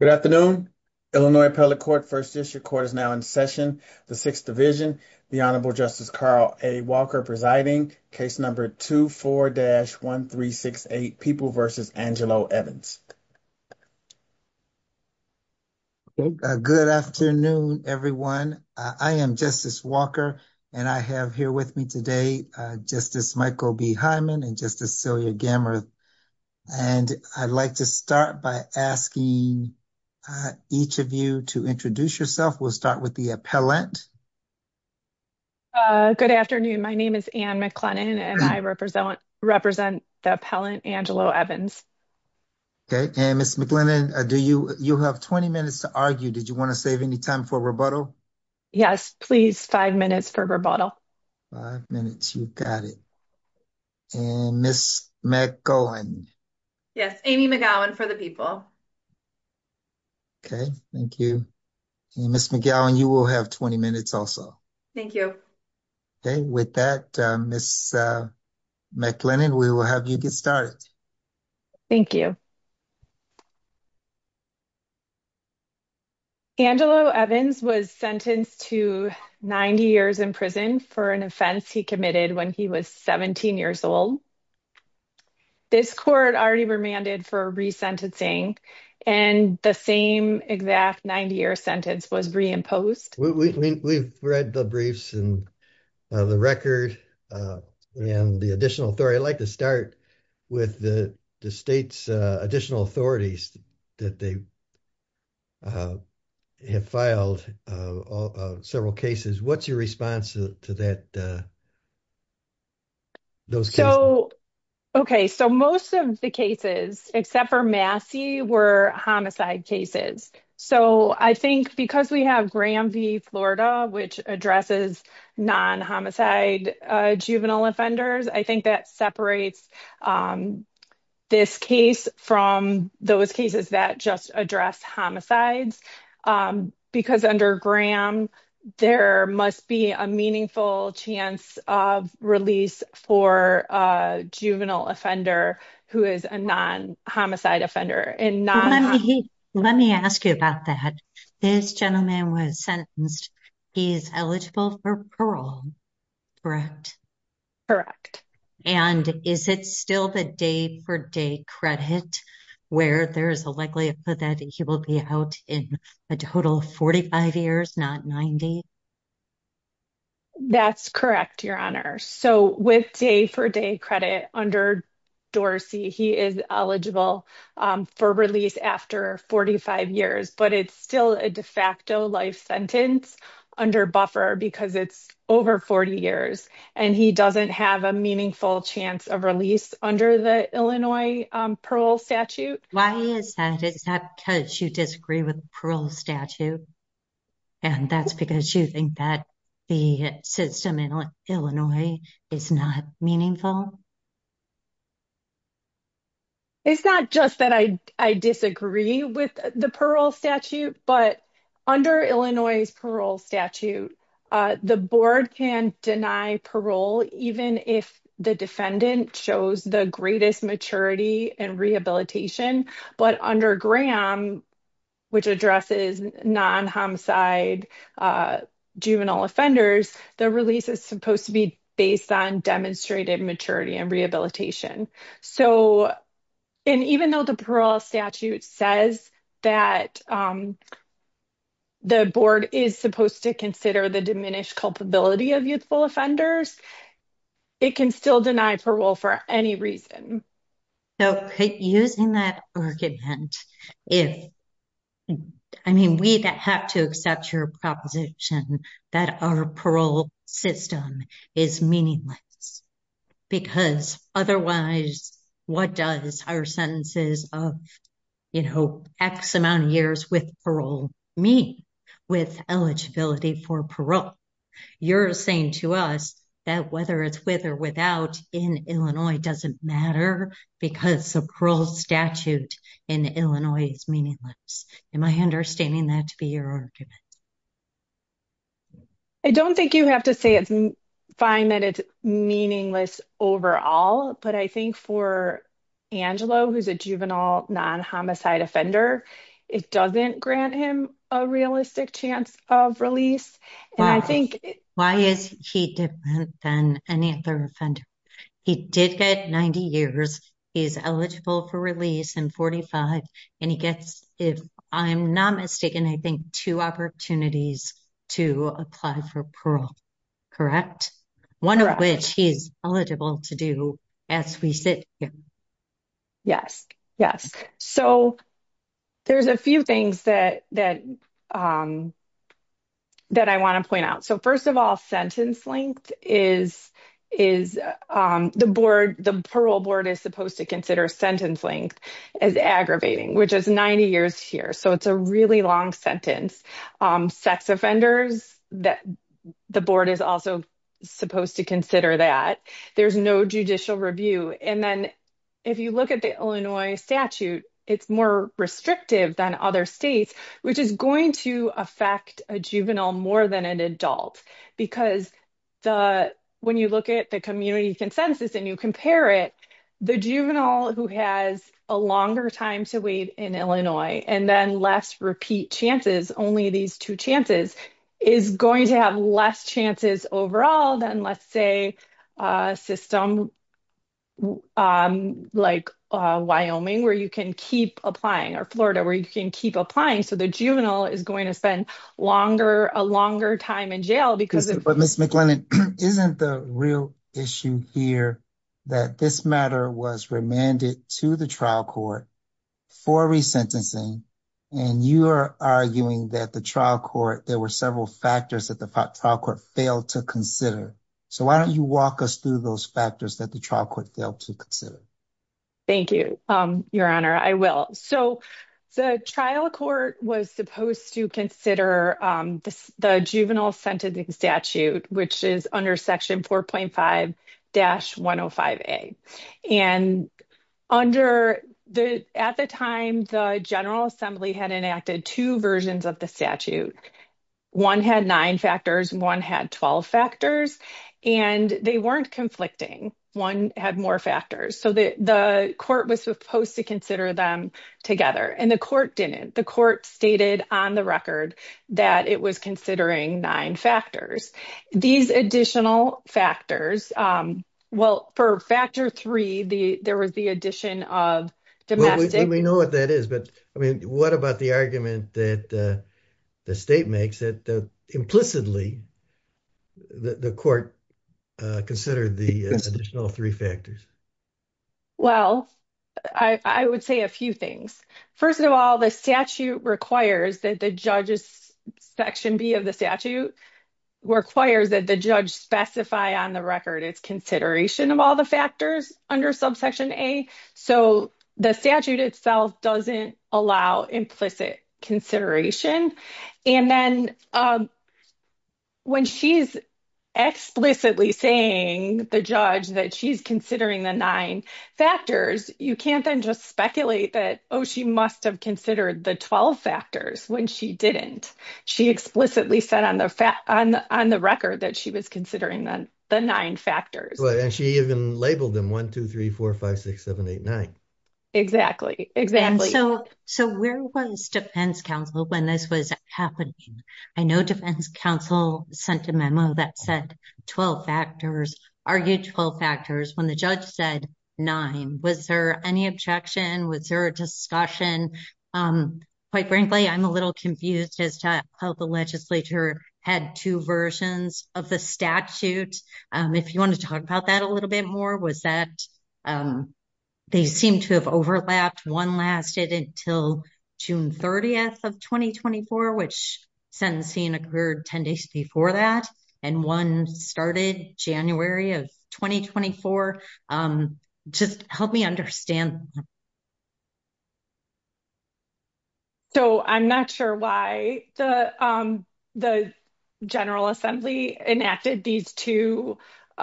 Good afternoon, Illinois appellate court 1st district court is now in session. The 6th division, the honorable justice, Carl, a Walker presiding case. Number 2, 4 dash 1, 3, 6, 8 people versus Angelo Evans. Good afternoon everyone. I am justice Walker and I have here with me today. Just as Michael be Hyman and just to sell your camera. And I'd like to start by asking each of you to introduce yourself. We'll start with the appellant. Good afternoon. My name is and McClennan and I represent represent the appellant Angelo Evans. Okay, and Ms. McLennan, do you have 20 minutes to argue? Did you want to save any time for rebuttal? Yes, please 5 minutes for rebuttal 5 minutes. You've got it. And Ms. Mac going, yes, Amy McGowan for the people. Okay, thank you. Ms. McGowan, you will have 20 minutes also. Thank you. Okay, with that, Ms. McLennan, we will have you get started. Thank you. Angelo Evans was sentenced to 90 years in prison for an offense he committed when he was 17 years old. This court already remanded for resentencing and the same exact 90 year sentence was reimposed. We've read the briefs and the record and the additional authority. I'd like to start with the state's additional authorities that they have filed several cases. What's your response to that? Okay, so most of the cases, except for Massey were homicide cases. So I think because we have Graham v. Florida, which addresses non homicide juvenile offenders. I think that separates this case from those cases that just address homicides because under Graham, there must be a meaningful chance of release for a juvenile offender who is a non homicide offender. And let me ask you about that. This gentleman was sentenced. He's eligible for parole. Correct. Correct. And is it still the day for day credit where there is a likelihood that he will be out in a total of 45 years, not 90? That's correct, Your Honor. So with day for day credit under Dorsey, he is eligible for release after 45 years, but it's still a de facto life sentence under buffer because it's over 40 years and he doesn't have a meaningful chance of release under the Illinois parole statute. Why is that? Is that because you disagree with parole statute? And that's because you think that the system in Illinois is not meaningful? It's not just that I disagree with the parole statute, but under Illinois parole statute, the board can deny parole even if the defendant shows the greatest maturity and rehabilitation. But under Graham, which addresses non homicide, juvenile offenders, the release is supposed to be based on demonstrated maturity. And rehabilitation. So, and even though the parole statute says that the board is supposed to consider the diminished culpability of youthful offenders, it can still deny parole for any reason. So, using that argument, if I mean, we have to accept your proposition that our parole system is meaningless because otherwise, what does our sentences of, you know, X amount of years with parole mean with eligibility for parole? You're saying to us that whether it's with or without in Illinois doesn't matter because of parole statute in Illinois is meaningless. Am I understanding that to be your argument? I don't think you have to say it's fine that it's meaningless overall, but I think for Angelo, who's a juvenile non homicide offender, it doesn't grant him a realistic chance of release. And I think why is he different than any other offender? He did get 90 years. He's eligible for release and 45 and he gets if I'm not mistaken, I think 2 opportunities to apply for parole. Correct 1 of which he's eligible to do as we sit. Yes, yes. So there's a few things that I want to point out. So, 1st of all, sentence length is the board. The parole board is supposed to consider sentence length as aggravating, which is 90 years here. So, it's a really long sentence sex offenders that the board is also supposed to consider that there's no judicial review. And then if you look at the Illinois statute, it's more restrictive than other states, which is going to affect a juvenile more than an adult. Because when you look at the community consensus and you compare it, the juvenile who has a longer time to wait in Illinois and then less repeat chances, only these 2 chances, is going to have less chances overall than, let's say, a system like Wyoming where you can keep applying or Florida where you can keep applying. So, the juvenile is going to spend longer, a longer time in jail because but isn't the real issue here that this matter was remanded to the trial court for resentencing and you are arguing that the trial court, there were several factors that the trial court failed to consider. So, why don't you walk us through those factors that the trial court failed to consider? Thank you, Your Honor. I will. So, the trial court was supposed to consider the juvenile sentencing statute, which is under Section 4.5-105A. And at the time, the General Assembly had enacted two versions of the statute. One had nine factors, one had 12 factors, and they weren't conflicting. One had more factors. So, the court was supposed to consider them together, and the court didn't. The court stated on the record that it was considering nine factors. These additional factors, well, for Factor 3, there was the addition of domestic. Well, we know what that is, but I mean, what about the argument that the state makes that implicitly the court considered the additional three factors? Well, I would say a few things. First of all, the statute requires that the judge's Section B of the statute requires that the judge specify on the record it's consideration of all the factors under Subsection A. So, the statute itself doesn't allow implicit consideration. And then when she's explicitly saying to the judge that she's considering the nine factors, you can't then just speculate that, oh, she must have considered the 12 factors when she didn't. She explicitly said on the record that she was considering the nine factors. And she even labeled them 1, 2, 3, 4, 5, 6, 7, 8, 9. Exactly, exactly. So, where was defense counsel when this was happening? I know defense counsel sent a memo that said 12 factors, argued 12 factors, when the judge said nine. Was there any objection? Was there a discussion? And then, quite frankly, I'm a little confused as to how the legislature had two versions of the statute. If you want to talk about that a little bit more, was that they seem to have overlapped, one lasted until June 30th of 2024, which sentencing occurred 10 days before that, and one started January of 2024. Just help me understand. So, I'm not sure why the General Assembly enacted these two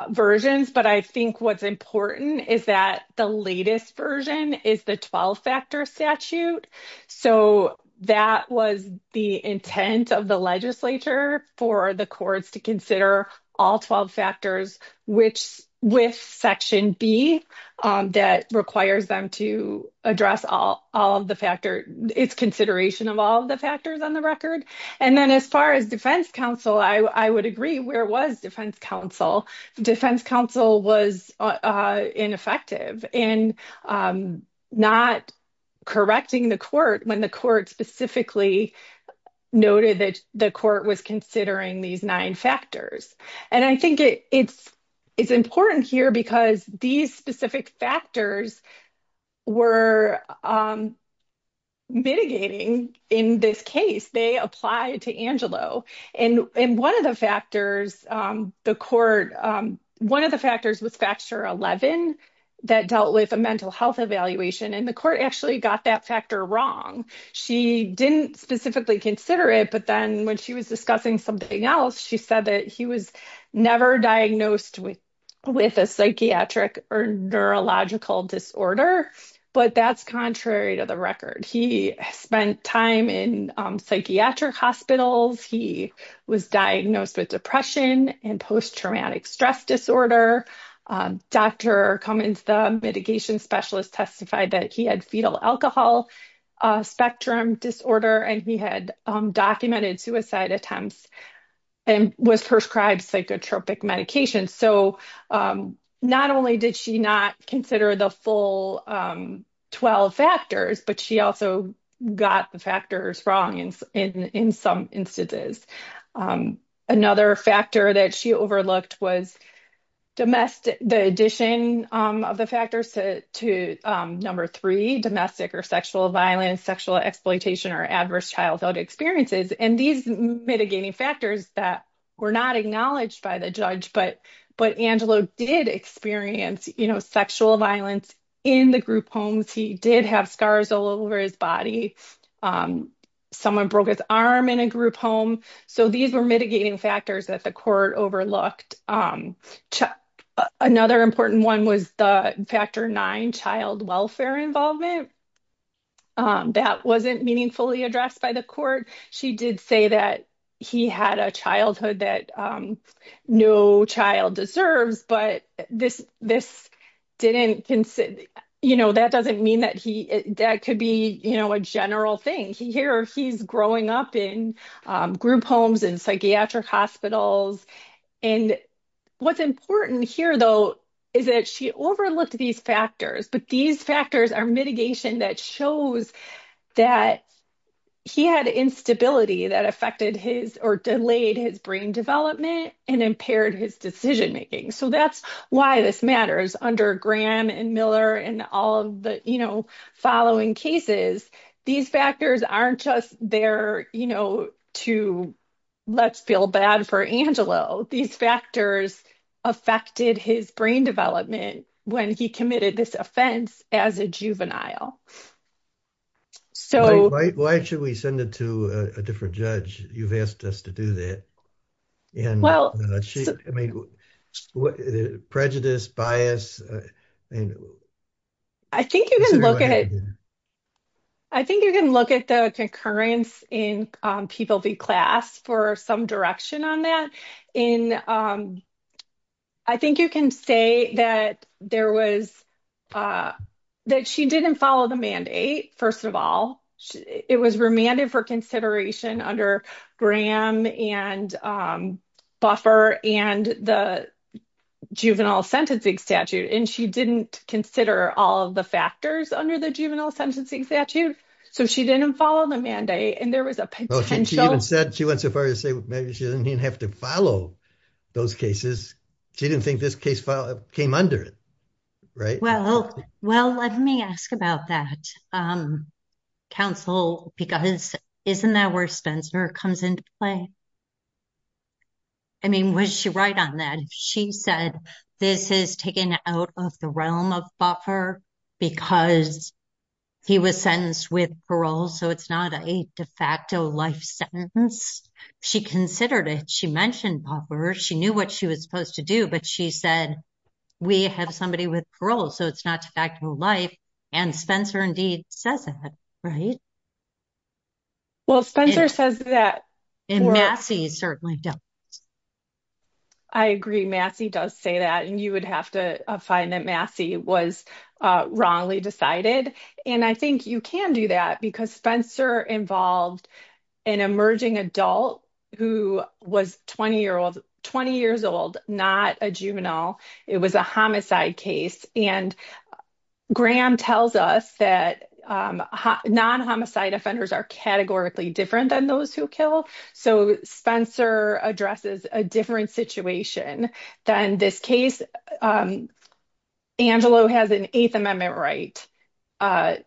versions, but I think what's important is that the latest version is the 12 factor statute. So, that was the intent of the legislature for the courts to consider all 12 factors with Section B that requires them to address all of the factors, its consideration of all the factors on the record. And then, as far as defense counsel, I would agree. Where was defense counsel? Defense counsel was ineffective in not correcting the court when the court specifically noted that the court was considering these nine factors. And I think it's important here because these specific factors were mitigating in this case. They apply to Angelo. And one of the factors, the court, one of the factors was Factor 11 that dealt with a mental health evaluation, and the court actually got that factor wrong. She didn't specifically consider it, but then when she was discussing something else, she said that he was never diagnosed with a psychiatric or neurological disorder, but that's contrary to the record. He spent time in psychiatric hospitals. He was diagnosed with depression and post-traumatic stress disorder. Dr. Cummins, the mitigation specialist, testified that he had fetal alcohol spectrum disorder, and he had documented suicide attempts and was prescribed psychotropic medication. So, not only did she not consider the full 12 factors, but she also got the factors wrong in some instances. Another factor that she overlooked was the addition of the factors to number three, domestic or sexual violence, sexual exploitation, or adverse childhood experiences. And these mitigating factors that were not acknowledged by the judge, but Angelo did experience sexual violence in the group homes. He did have scars all over his body. Someone broke his arm in a group home. So, these were mitigating factors that the court overlooked. Another important one was the factor nine, child welfare involvement. That wasn't meaningfully addressed by the court. She did say that he had a childhood that no child deserves, but that doesn't mean that could be a general thing. Here, he's growing up in group homes and psychiatric hospitals. And what's important here, though, is that she overlooked these factors, but these factors are mitigation that shows that he had instability that affected his or delayed his brain development and impaired his decision making. So, that's why this matters under Graham and Miller and all of the following cases. These factors aren't just there to let's feel bad for Angelo. These factors affected his brain development when he committed this offense as a juvenile. Why should we send it to a different judge? You've asked us to do that. Prejudice, bias. I think you can look at the concurrence in People v. Class for some direction on that. I think you can say that she didn't follow the mandate, first of all. It was remanded for consideration under Graham and Buffer and the juvenile sentencing statute. She didn't consider all of the factors under the juvenile sentencing statute. So, she didn't follow the mandate and there was a potential. She even said she went so far as to say maybe she didn't even have to follow those cases. She didn't think this case came under it, right? Well, let me ask about that, counsel, because isn't that where Spencer comes into play? I mean, was she right on that? She said this is taken out of the realm of Buffer because he was sentenced with parole, so it's not a de facto life sentence. She considered it. She mentioned Buffer. She knew what she was supposed to do, but she said we have somebody with parole, so it's not a de facto life, and Spencer indeed says that, right? Well, Spencer says that. And Massey certainly doesn't. I agree. Massey does say that, and you would have to find that Massey was wrongly decided, and I think you can do that because Spencer involved an emerging adult who was 20 years old, not a juvenile. It was a homicide case, and Graham tells us that non-homicide offenders are categorically different than those who kill, so Spencer addresses a different situation than this case. Angelo has an Eighth Amendment right,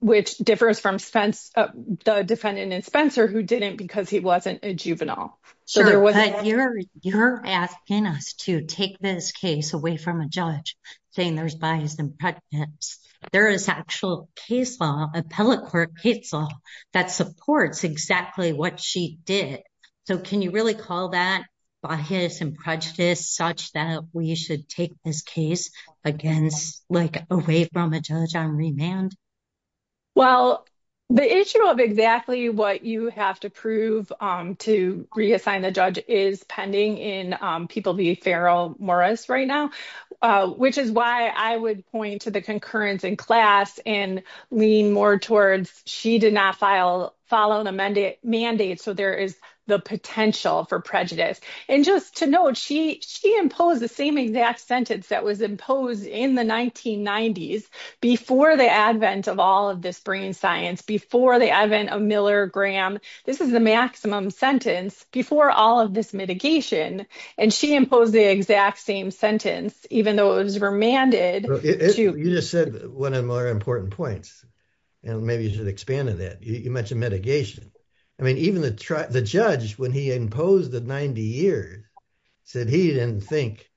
which differs from the defendant in Spencer who didn't because he wasn't a juvenile. Sure, but you're asking us to take this case away from a judge saying there's bias and prejudice. There is actual case law, appellate court case law, that supports exactly what she did, so can you really call that bias and prejudice such that we should take this case away from a judge on remand? Well, the issue of exactly what you have to prove to reassign the judge is pending in People v. Farrell-Morris right now, which is why I would point to the concurrence in class and lean more towards she did not follow the mandate, so there is the potential for prejudice. And just to note, she imposed the same exact sentence that was imposed in the 1990s before the advent of all of this brain science, before the advent of Miller-Graham. This is the maximum sentence before all of this mitigation, and she imposed the exact same sentence, even though it was remanded. You just said one of the more important points, and maybe you should expand on that. You mentioned mitigation. I mean, even the judge, when he imposed the 90 years, said he didn't think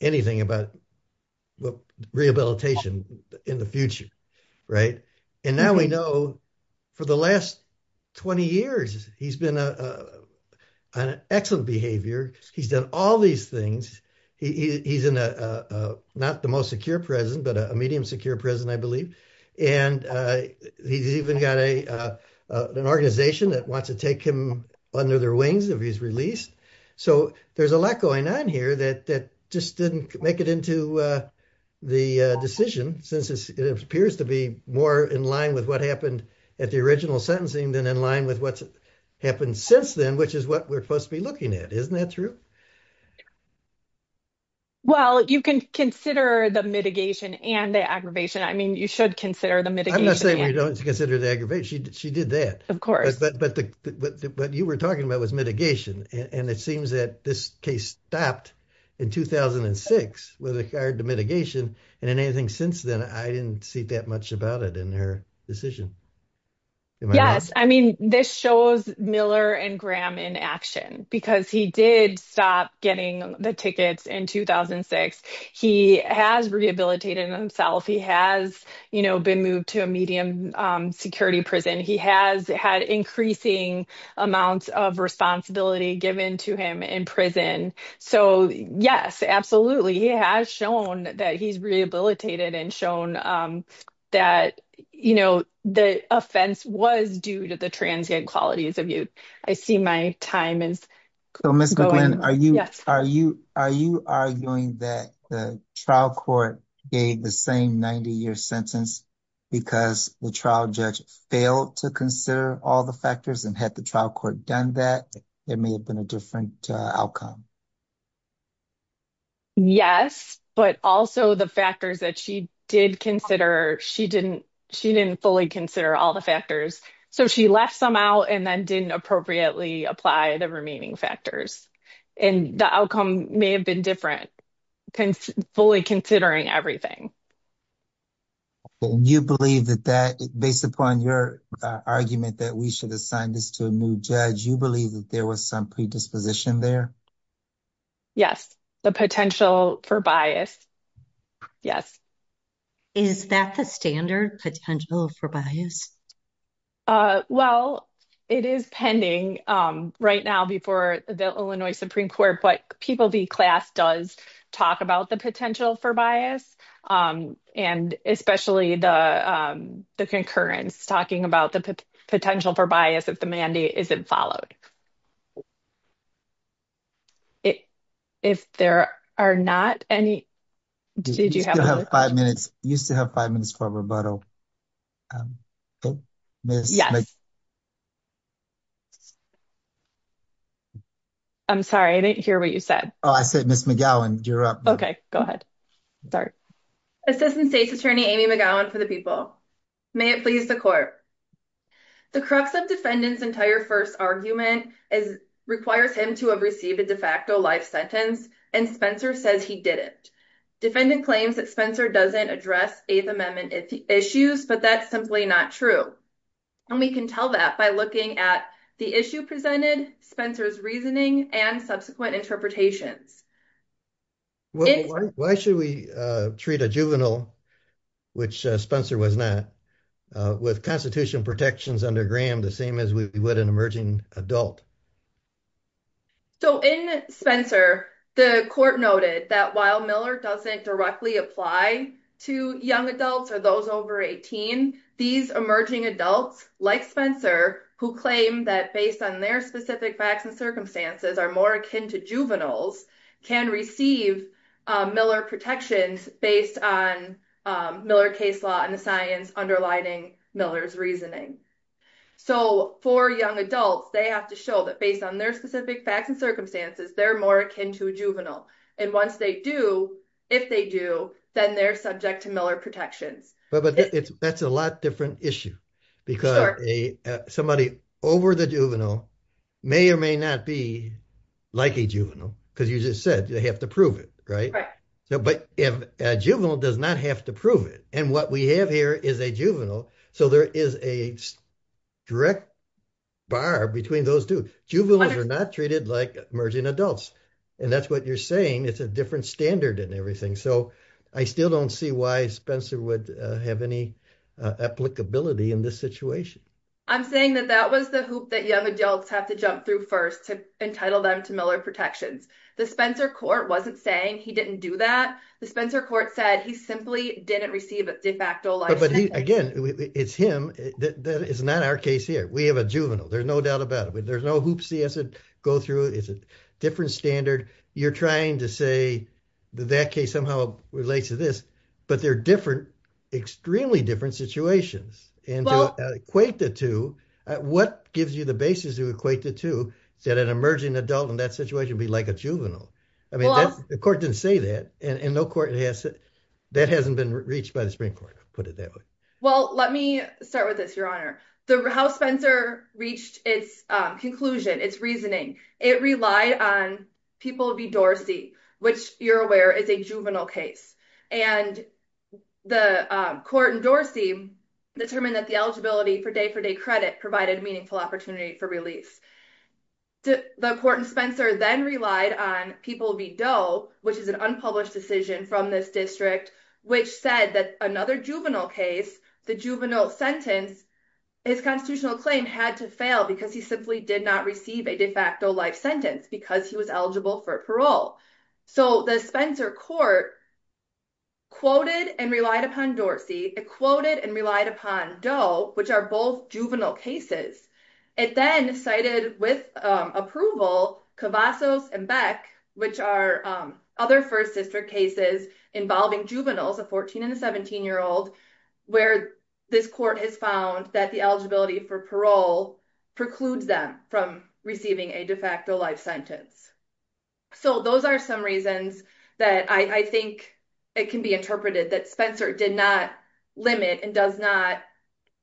anything about rehabilitation in the future, right? And now we know, for the last 20 years, he's been on excellent behavior. He's done all these things. He's not the most secure president, but a medium secure president, I believe, and he's even got an organization that wants to take him under their wings if he's released. So there's a lot going on here that just didn't make it into the decision, since it appears to be more in line with what happened at the original sentencing than in line with what's happened since then, which is what we're supposed to be looking at. Isn't that true? Well, you can consider the mitigation and the aggravation. I mean, you should consider the mitigation. I'm not saying we don't consider the aggravation. She did that. But what you were talking about was mitigation, and it seems that this case stopped in 2006 with regard to mitigation, and anything since then, I didn't see that much about it in her decision. Yes. I mean, this shows Miller and Graham in action, because he did stop getting the tickets in 2006. He has rehabilitated himself. He has been moved to a medium security prison. He has had increasing amounts of responsibility given to him in prison. So, yes, absolutely. He has shown that he's rehabilitated and shown that the offense was due to the transient qualities of youth. I see my time is going. Are you arguing that the trial court gave the same 90-year sentence because the trial judge failed to consider all the factors and had the trial court done that, there may have been a different outcome? Yes, but also the factors that she did consider, she didn't fully consider all the factors. So, she left some out and then didn't appropriately apply the remaining factors. And the outcome may have been different, fully considering everything. You believe that that, based upon your argument that we should assign this to a new judge, you believe that there was some predisposition there? Yes, the potential for bias. Yes. Is that the standard potential for bias? Well, it is pending right now before the Illinois Supreme Court, but People v. Class does talk about the potential for bias, and especially the concurrence, talking about the potential for bias if the mandate isn't followed. If there are not any. You still have five minutes for rebuttal. I'm sorry, I didn't hear what you said. Oh, I said Ms. McGowan, you're up. Okay, go ahead. Assistant State's Attorney Amy McGowan for the People. May it please the court. The crux of defendant's entire first argument requires him to have received a de facto life sentence, and Spencer says he didn't. Defendant claims that Spencer doesn't address Eighth Amendment issues, but that's simply not true. And we can tell that by looking at the issue presented, Spencer's reasoning, and subsequent interpretations. Why should we treat a juvenile, which Spencer was not, with Constitution protections under Graham the same as we would an emerging adult? So, in Spencer, the court noted that while Miller doesn't directly apply to young adults or those over 18, these emerging adults, like Spencer, who claim that based on their specific facts and circumstances are more akin to juveniles, can receive Miller protections based on Miller case law and the science underlining Miller's reasoning. So, for young adults, they have to show that based on their specific facts and circumstances, they're more akin to a juvenile. And once they do, if they do, then they're subject to Miller protections. But that's a lot different issue. Because somebody over the juvenile may or may not be like a juvenile, because you just said you have to prove it, right? But a juvenile does not have to prove it. And what we have here is a juvenile. So, there is a direct bar between those two. Juveniles are not treated like emerging adults. And that's what you're saying. It's a different standard and everything. So, I still don't see why Spencer would have any applicability in this situation. I'm saying that that was the hoop that young adults have to jump through first to entitle them to Miller protections. The Spencer court wasn't saying he didn't do that. The Spencer court said he simply didn't receive a de facto license. Again, it's him. It's not our case here. We have a juvenile. There's no doubt about it. There's no hoops he has to go through. It's a different standard. You're trying to say that that case somehow relates to this, but they're different, extremely different situations. And to equate the two, what gives you the basis to equate the two that an emerging adult in that situation would be like a juvenile? I mean, the court didn't say that. And no court has said that hasn't been reached by the Supreme Court, put it that way. Well, let me start with this. Your honor, the house Spencer reached its conclusion. It's reasoning. It relied on people be Dorsey, which you're aware is a juvenile case and the court and Dorsey determined that the eligibility for day for day credit provided meaningful opportunity for release. The court and Spencer then relied on people be dough, which is an unpublished decision from this district, which said that another juvenile case, the juvenile sentence is constitutional claim had to fail because he simply did not receive a de facto life sentence because he was eligible for parole. So the Spencer court quoted and relied upon Dorsey quoted and relied upon dough, which are both juvenile cases. It then cited with approval Cavazos and Beck, which are other first district cases involving juveniles, a 14 and a 17 year old. Where this court has found that the eligibility for parole precludes them from receiving a de facto life sentence. So those are some reasons that I think it can be interpreted that Spencer did not limit and does not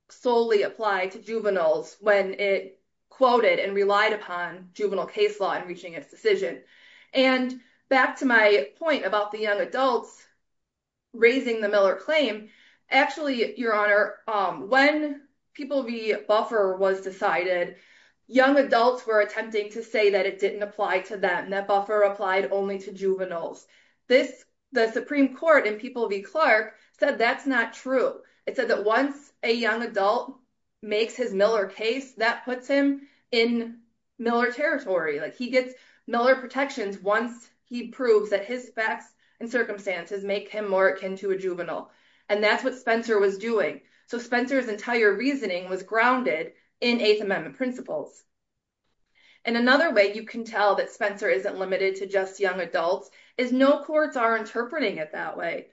solely apply to juveniles when it quoted and relied upon juvenile case law and reaching its decision. And back to my point about the young adults raising the Miller claim. Actually, Your Honor, when people be buffer was decided young adults were attempting to say that it didn't apply to them that buffer applied only to juveniles. This the Supreme Court and people be Clark said that's not true. It said that once a young adult makes his Miller case that puts him in Miller territory like he gets Miller protections once he proves that his facts and circumstances make him more akin to a juvenile. And that's what Spencer was doing. So Spencer's entire reasoning was grounded in Eighth Amendment principles. And another way you can tell that Spencer isn't limited to just young adults is no courts are interpreting it that way.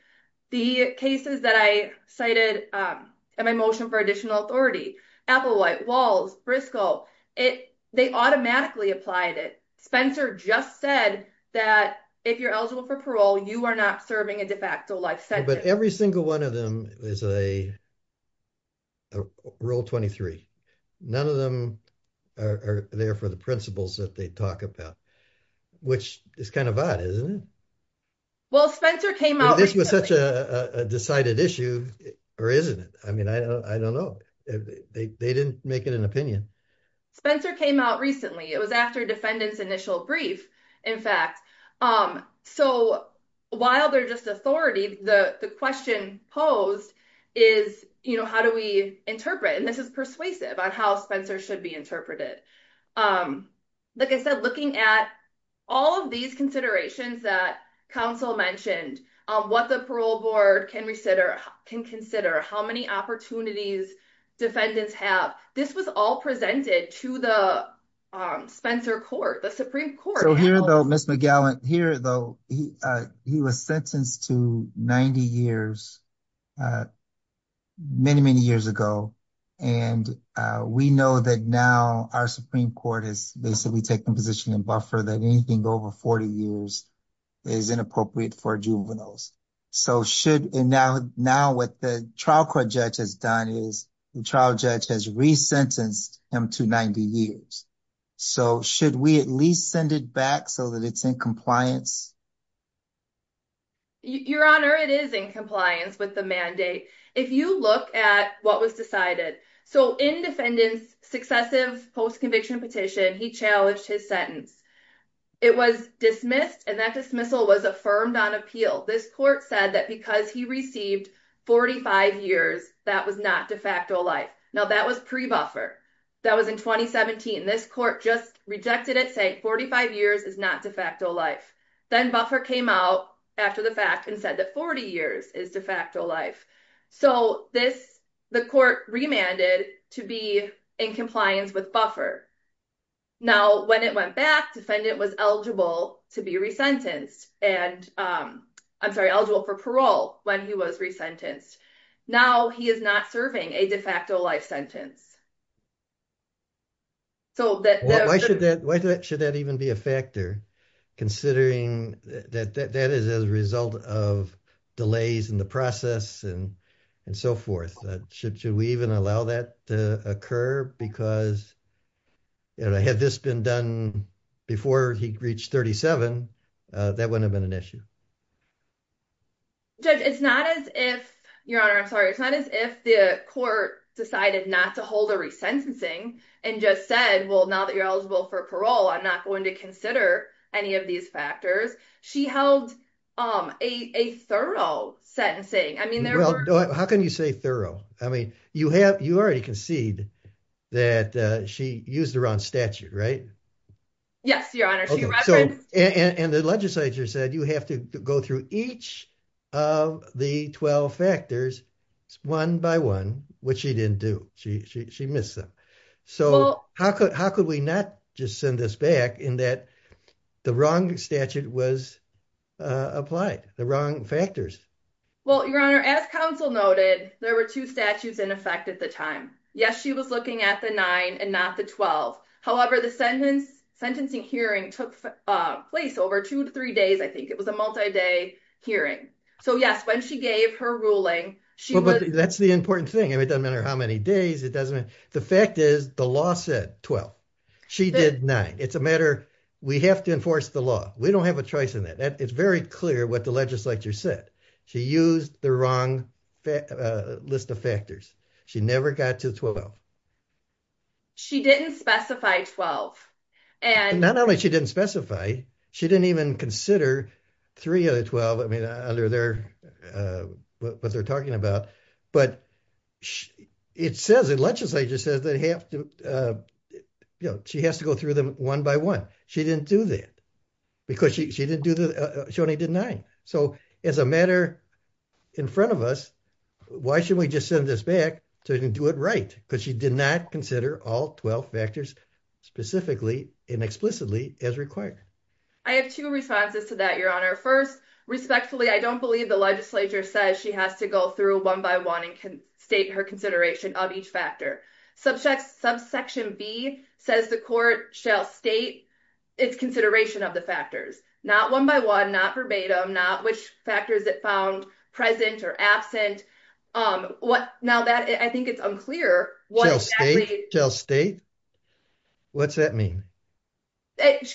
The cases that I cited my motion for additional authority apple white walls briscoe it. They automatically applied it. Spencer just said that if you're eligible for parole, you are not serving a de facto life sentence. But every single one of them is a rule 23. None of them are there for the principles that they talk about, which is kind of odd, isn't it? Well, Spencer came out. This was such a decided issue, or isn't it? I mean, I don't know. They didn't make it an opinion. Spencer came out recently. It was after defendants initial brief. In fact, so while they're just authority, the question posed is, you know, how do we interpret and this is persuasive on how Spencer should be interpreted. Like I said, looking at all of these considerations that counsel mentioned, what the parole board can consider, can consider how many opportunities defendants have. This was all presented to the Spencer court, the Supreme Court. So here, though, Miss McGowan here, though, he was sentenced to 90 years. Many, many years ago, and we know that now our Supreme Court is basically taking position and buffer that anything over 40 years is inappropriate for juveniles. So should now what the trial court judge has done is the trial judge has resentenced him to 90 years. So should we at least send it back so that it's in compliance? Your Honor, it is in compliance with the mandate. If you look at what was decided. So in defendants successive post conviction petition, he challenged his sentence. It was dismissed and that dismissal was affirmed on appeal. This court said that because he received 45 years, that was not de facto life. Now, that was pre buffer. That was in 2017. This court just rejected it. Say 45 years is not de facto life. Then buffer came out after the fact and said that 40 years is de facto life. So this the court remanded to be in compliance with buffer. Now, when it went back, defendant was eligible to be resentenced and I'm sorry, eligible for parole when he was resentenced. Now he is not serving a de facto life sentence. So that why should that why should that even be a factor considering that that is as a result of delays in the process and and so forth that should should we even allow that to occur? Because. And I had this been done before he reached 37 that wouldn't have been an issue. It's not as if your honor, I'm sorry. It's not as if the court decided not to hold a resentencing and just said, well, now that you're eligible for parole, I'm not going to consider any of these factors. She held a thorough sentencing. I mean, how can you say thorough? I mean, you have you already concede that she used around statute, right? Yes, your honor. And the legislature said you have to go through each of the 12 factors one by one, which she didn't do. She missed them. So how could how could we not just send this back in that the wrong statute was applied the wrong factors? Well, your honor, as counsel noted, there were two statutes in effect at the time. Yes, she was looking at the nine and not the 12. However, the sentence sentencing hearing took place over two to three days. I think it was a multi day hearing. So yes, when she gave her ruling. That's the important thing. It doesn't matter how many days it doesn't. The fact is the law said 12. She did nine. It's a matter. We have to enforce the law. We don't have a choice in that. It's very clear what the legislature said. She used the wrong list of factors. She never got to 12. She didn't specify 12. And not only she didn't specify, she didn't even consider three of the 12. I mean, under their what they're talking about, but it says it. Legislature says they have to, you know, she has to go through them one by one. She didn't do that because she didn't do that. She only did nine. So as a matter in front of us, why should we just send this back to do it right? Because she did not consider all 12 factors specifically and explicitly as required. I have two responses to that, Your Honor. First, respectfully, I don't believe the legislature says she has to go through one by one and can state her consideration of each factor. Subsection B says the court shall state its consideration of the factors, not one by one, not verbatim, not which factors it found present or absent. Now that I think it's unclear. Shall state? What's that mean?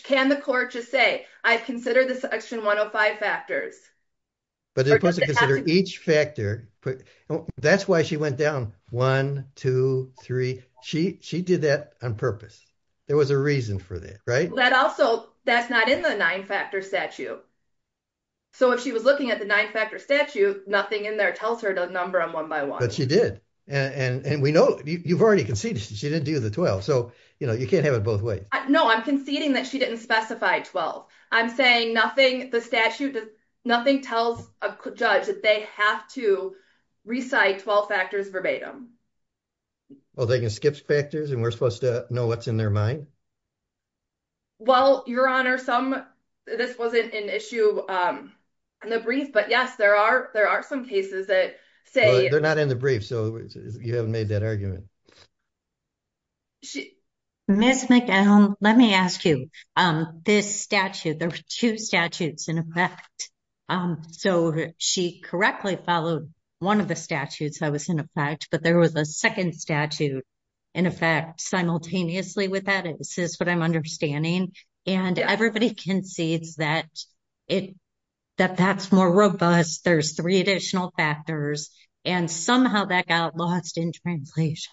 Can the court just say, I've considered the section 105 factors? But they're supposed to consider each factor. That's why she went down one, two, three. She did that on purpose. There was a reason for that, right? That also, that's not in the nine factor statute. So if she was looking at the nine factor statute, nothing in there tells her to number them one by one. But she did. And we know, you've already conceded she didn't do the 12. So, you know, you can't have it both ways. No, I'm conceding that she didn't specify 12. I'm saying nothing, the statute, nothing tells a judge that they have to recite 12 factors verbatim. Well, they can skip factors and we're supposed to know what's in their mind. Well, Your Honor, some, this wasn't an issue. In the brief, but yes, there are there are some cases that say they're not in the brief. So you haven't made that argument. Ms. McGill, let me ask you, this statute, there were two statutes in effect. So she correctly followed one of the statutes that was in effect, but there was a second statute in effect simultaneously with that. This is what I'm understanding. And everybody concedes that it, that that's more robust. There's three additional factors and somehow that got lost in translation.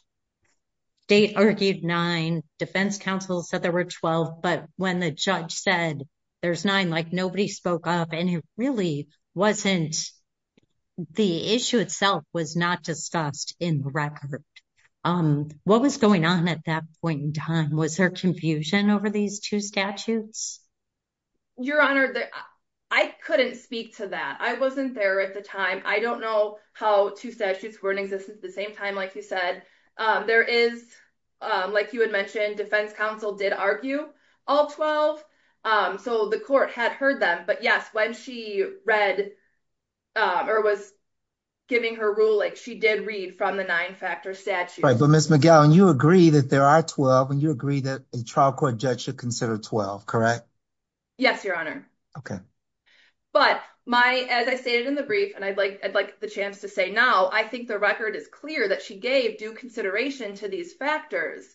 They argued nine defense counsel said there were 12, but when the judge said there's nine, like, nobody spoke up. And it really wasn't the issue itself was not discussed in the record. What was going on at that point in time? Was there confusion over these two statutes? Your Honor, I couldn't speak to that. I wasn't there at the time. I don't know how two statutes were in existence at the same time. Like you said, there is, like you had mentioned, defense counsel did argue all 12. So the court had heard that. But yes, when she read or was giving her ruling, she did read from the nine factor statute. But Miss McGowan, you agree that there are 12 and you agree that a trial court judge should consider 12. Correct? Yes, Your Honor. Okay. But my as I stated in the brief and I'd like I'd like the chance to say now, I think the record is clear that she gave due consideration to these factors.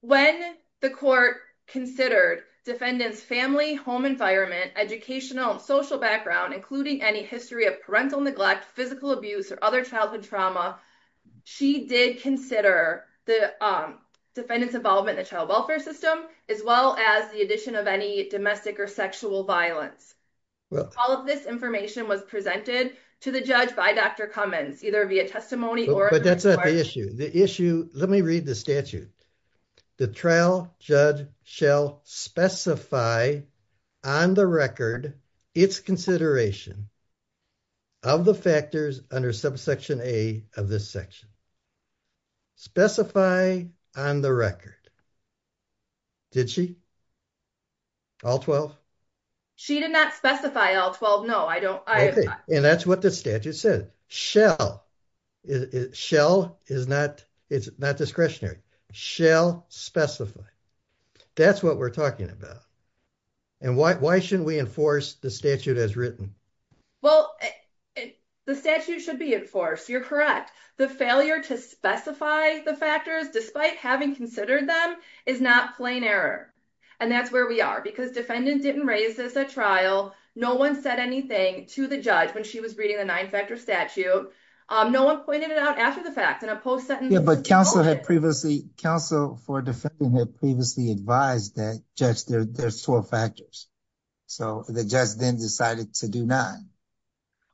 When the court considered defendants family, home environment, educational, social background, including any history of parental neglect, physical abuse or other childhood trauma. She did consider the defendants involvement in the child welfare system, as well as the addition of any domestic or sexual violence. All of this information was presented to the judge by Dr. Cummins, either via testimony or. But that's not the issue. The issue. Let me read the statute. The trial judge shall specify on the record its consideration of the factors under subsection A of this section. Specify on the record. Did she? All 12? She did not specify all 12. No, I don't. And that's what the statute says. Shall. Shall is not. It's not discretionary. Shall specify. That's what we're talking about. And why shouldn't we enforce the statute as written? Well, the statute should be enforced. You're correct. The failure to specify the factors, despite having considered them is not plain error. And that's where we are, because defendant didn't raise this at trial. No one said anything to the judge when she was reading the 9 factor statute. No one pointed it out after the fact in a post sentence. Yeah, but counsel had previously counsel for defendant had previously advised that judge there's 12 factors. So the judge then decided to do 9.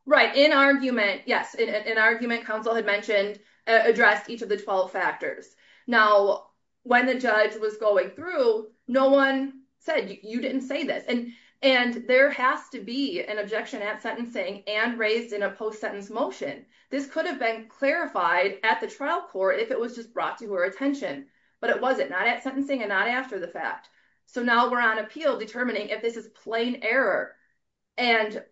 Right in argument. Yes, in argument, counsel had mentioned addressed each of the 12 factors. Now, when the judge was going through, no one said you didn't say this and and there has to be an objection at sentencing and raised in a post sentence motion. This could have been clarified at the trial court if it was just brought to her attention, but it wasn't not at sentencing and not after the fact. So now we're on appeal determining if this is plain error. And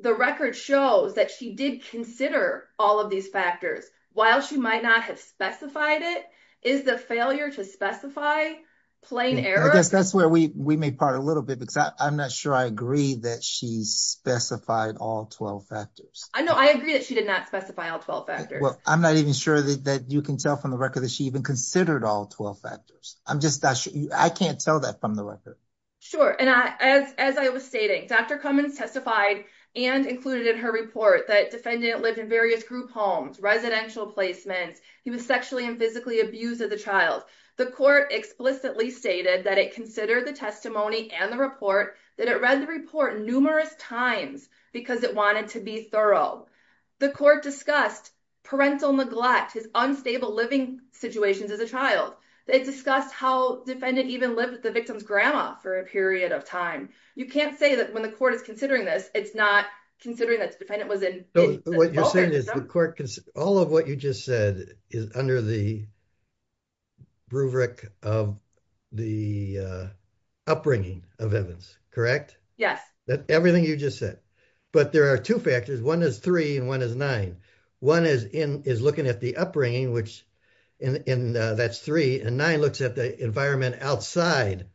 the record shows that she did consider all of these factors while she might not have specified it is the failure to specify plain error. I guess that's where we we may part a little bit because I'm not sure I agree that she specified all 12 factors. I know. I agree that she did not specify all 12 factors. Well, I'm not even sure that you can tell from the record that she even considered all 12 factors. I'm just not sure. I can't tell that from the record. Sure. And as I was stating, Dr. Cummins testified and included in her report that defendant lived in various group homes, residential placements. He was sexually and physically abused as a child. The court explicitly stated that it considered the testimony and the report that it read the report numerous times because it wanted to be thorough. The court discussed parental neglect, his unstable living situations as a child. They discussed how defendant even lived with the victim's grandma for a period of time. You can't say that when the court is considering this, it's not considering that the defendant was in. What you're saying is the court, all of what you just said is under the rubric of the upbringing of Evans, correct? Yes. Everything you just said. But there are two factors. One is three and one is nine. One is looking at the upbringing, which that's three, and nine looks at the environment outside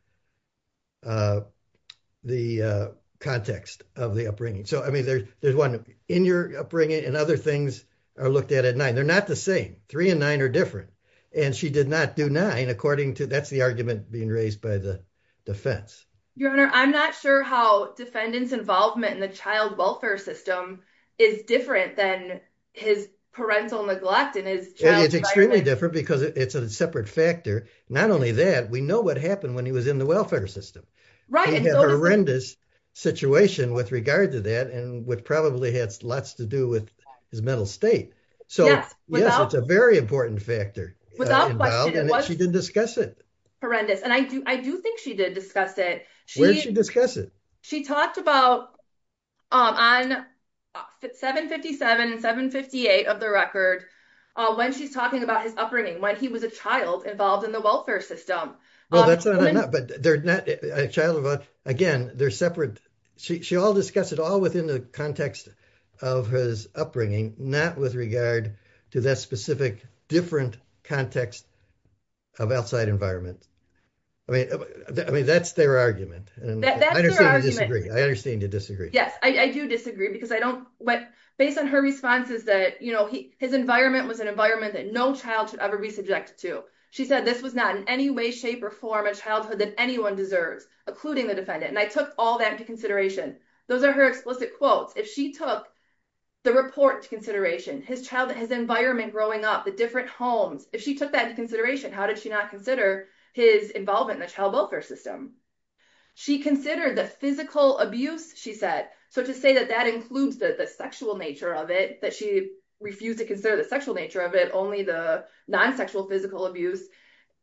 the context of the upbringing. So, I mean, there's one in your upbringing and other things are looked at at nine. They're not the same. Three and nine are different. And she did not do nine according to, that's the argument being raised by the defense. Your Honor, I'm not sure how defendant's involvement in the child welfare system is different than his parental neglect and his child's environment. It's extremely different because it's a separate factor. Not only that, we know what happened when he was in the welfare system. Right. He had a horrendous situation with regard to that and would probably had lots to do with his mental state. Yes, without question. So, yes, it's a very important factor involved and she did discuss it. Horrendous. And I do think she did discuss it. Where did she discuss it? She talked about on 757 and 758 of the record when she's talking about his upbringing, when he was a child involved in the welfare system. Again, they're separate. She all discussed it all within the context of his upbringing, not with regard to that specific different context of outside environment. I mean, that's their argument. I understand you disagree. Yes, I do disagree. Based on her responses, his environment was an environment that no child should ever be subjected to. She said this was not in any way, shape or form a childhood that anyone deserves, including the defendant. And I took all that into consideration. Those are her explicit quotes. If she took the report to consideration, his environment growing up, the different homes, if she took that into consideration, how did she not consider his involvement in the child welfare system? She considered the physical abuse, she said. So to say that that includes the sexual nature of it, that she refused to consider the sexual nature of it, only the non-sexual physical abuse.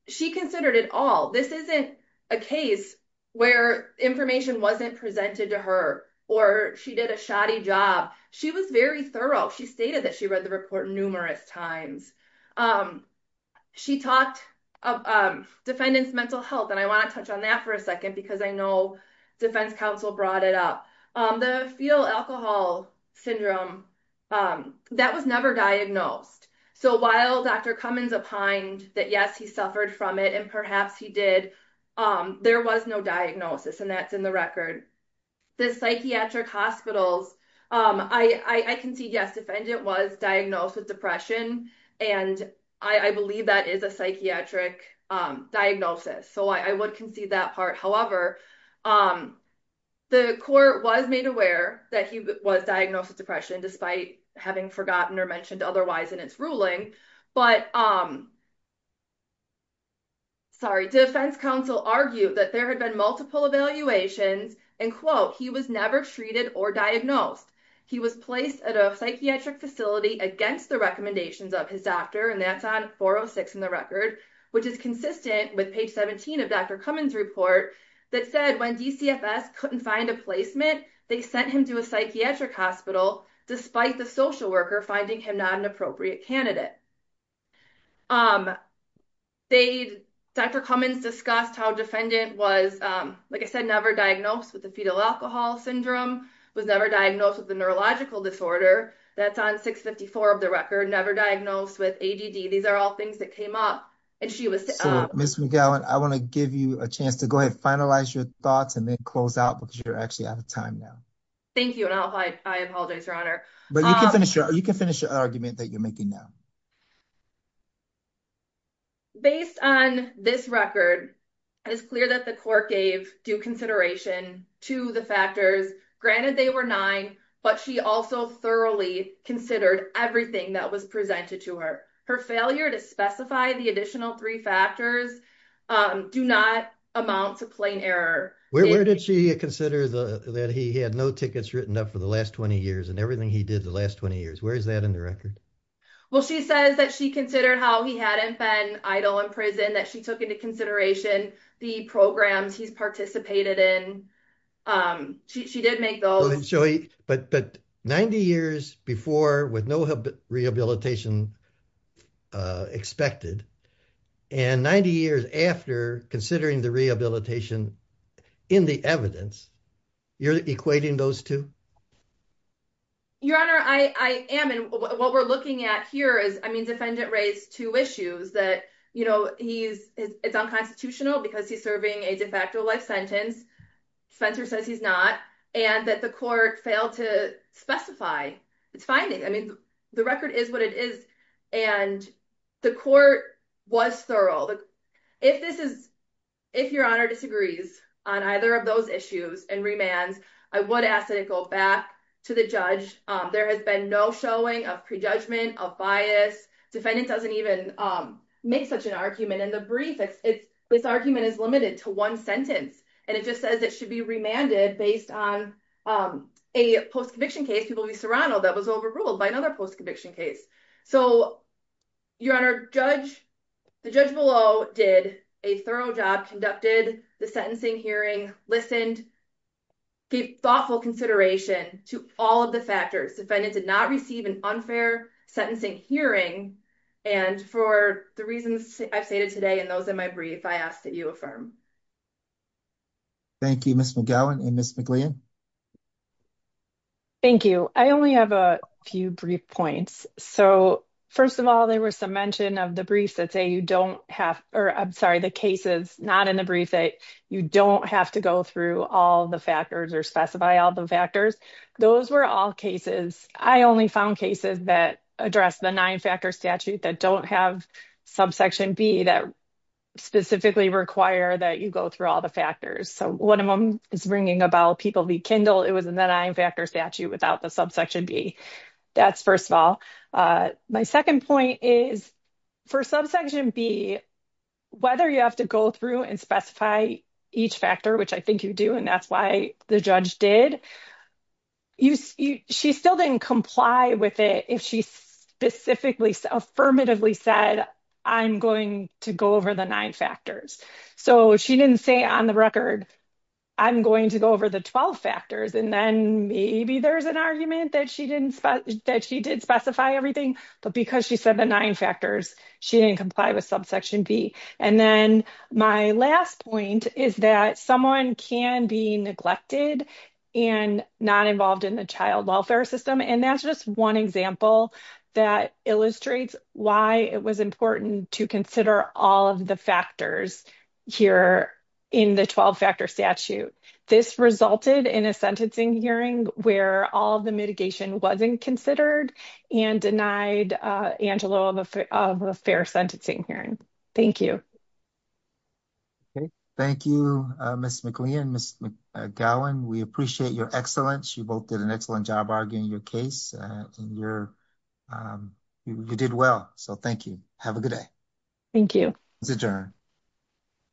She considered it all. This isn't a case where information wasn't presented to her or she did a shoddy job. She was very thorough. She stated that she read the report numerous times. She talked of defendant's mental health, and I want to touch on that for a second because I know defense counsel brought it up. The fetal alcohol syndrome, that was never diagnosed. So while Dr. Cummins opined that yes, he suffered from it and perhaps he did, there was no diagnosis and that's in the record. The psychiatric hospitals, I can see, yes, defendant was diagnosed with depression and I believe that is a psychiatric diagnosis. So I would concede that part. However, the court was made aware that he was diagnosed with depression despite having forgotten or mentioned otherwise in its ruling. But, sorry, defense counsel argued that there had been multiple evaluations and quote, he was never treated or diagnosed. He was placed at a psychiatric facility against the recommendations of his doctor and that's on 406 in the record, which is consistent with page 17 of Dr. Cummins report that said when DCFS couldn't find a placement, they sent him to a psychiatric hospital, despite the social worker finding him not an appropriate candidate. Dr. Cummins discussed how defendant was, like I said, never diagnosed with the fetal alcohol syndrome, was never diagnosed with a neurological disorder, that's on 654 of the record, never diagnosed with ADD. These are all things that came up. Ms. McGowan, I want to give you a chance to go ahead and finalize your thoughts and then close out because you're actually out of time now. Thank you and I apologize, Your Honor. But you can finish your argument that you're making now. Based on this record, it is clear that the court gave due consideration to the factors. Granted, they were nine, but she also thoroughly considered everything that was presented to her. Her failure to specify the additional three factors do not amount to plain error. Where did she consider that he had no tickets written up for the last 20 years and everything he did the last 20 years? Where is that in the record? Well, she says that she considered how he hadn't been idle in prison, that she took into consideration the programs he's participated in. She did make those. But 90 years before with no rehabilitation expected and 90 years after considering the rehabilitation in the evidence, you're equating those two? Your Honor, I am and what we're looking at here is I mean, defendant raised two issues that, you know, he's it's unconstitutional because he's serving a de facto life sentence. Spencer says he's not and that the court failed to specify it's finding. I mean, the record is what it is and the court was thorough. If this is if your honor disagrees on either of those issues and remands, I would ask that it go back to the judge. There has been no showing of prejudgment of bias. Defendant doesn't even make such an argument in the brief. It's this argument is limited to one sentence, and it just says it should be remanded based on a post conviction case. So, your honor judge, the judge below did a thorough job, conducted the sentencing hearing, listened, gave thoughtful consideration to all of the factors. Defendant did not receive an unfair sentencing hearing. And for the reasons I've stated today, and those in my brief, I asked that you affirm. Thank you, Miss McGowan and Miss McLean. Thank you. I only have a few brief points. So, first of all, there was some mention of the briefs that say you don't have, or I'm sorry, the cases not in the brief that you don't have to go through all the factors or specify all the factors. Those were all cases. I only found cases that address the nine-factor statute that don't have subsection B that specifically require that you go through all the factors. So, one of them is ringing a bell, people be kindled. It was in the nine-factor statute without the subsection B. That's first of all. My second point is for subsection B, whether you have to go through and specify each factor, which I think you do, and that's why the judge did, she still didn't comply with it if she specifically, affirmatively said, I'm going to go over the nine factors. So, she didn't say on the record, I'm going to go over the 12 factors, and then maybe there's an argument that she did specify everything, but because she said the nine factors, she didn't comply with subsection B. My last point is that someone can be neglected and not involved in the child welfare system, and that's just one example that illustrates why it was important to consider all of the factors here in the 12-factor statute. This resulted in a sentencing hearing where all of the mitigation wasn't considered and denied Angelo of a fair sentencing hearing. Thank you. Thank you, Ms. McLean and Ms. McGowan. We appreciate your excellence. You both did an excellent job arguing your case. You did well, so thank you. Have a good day. Thank you. This is adjourned.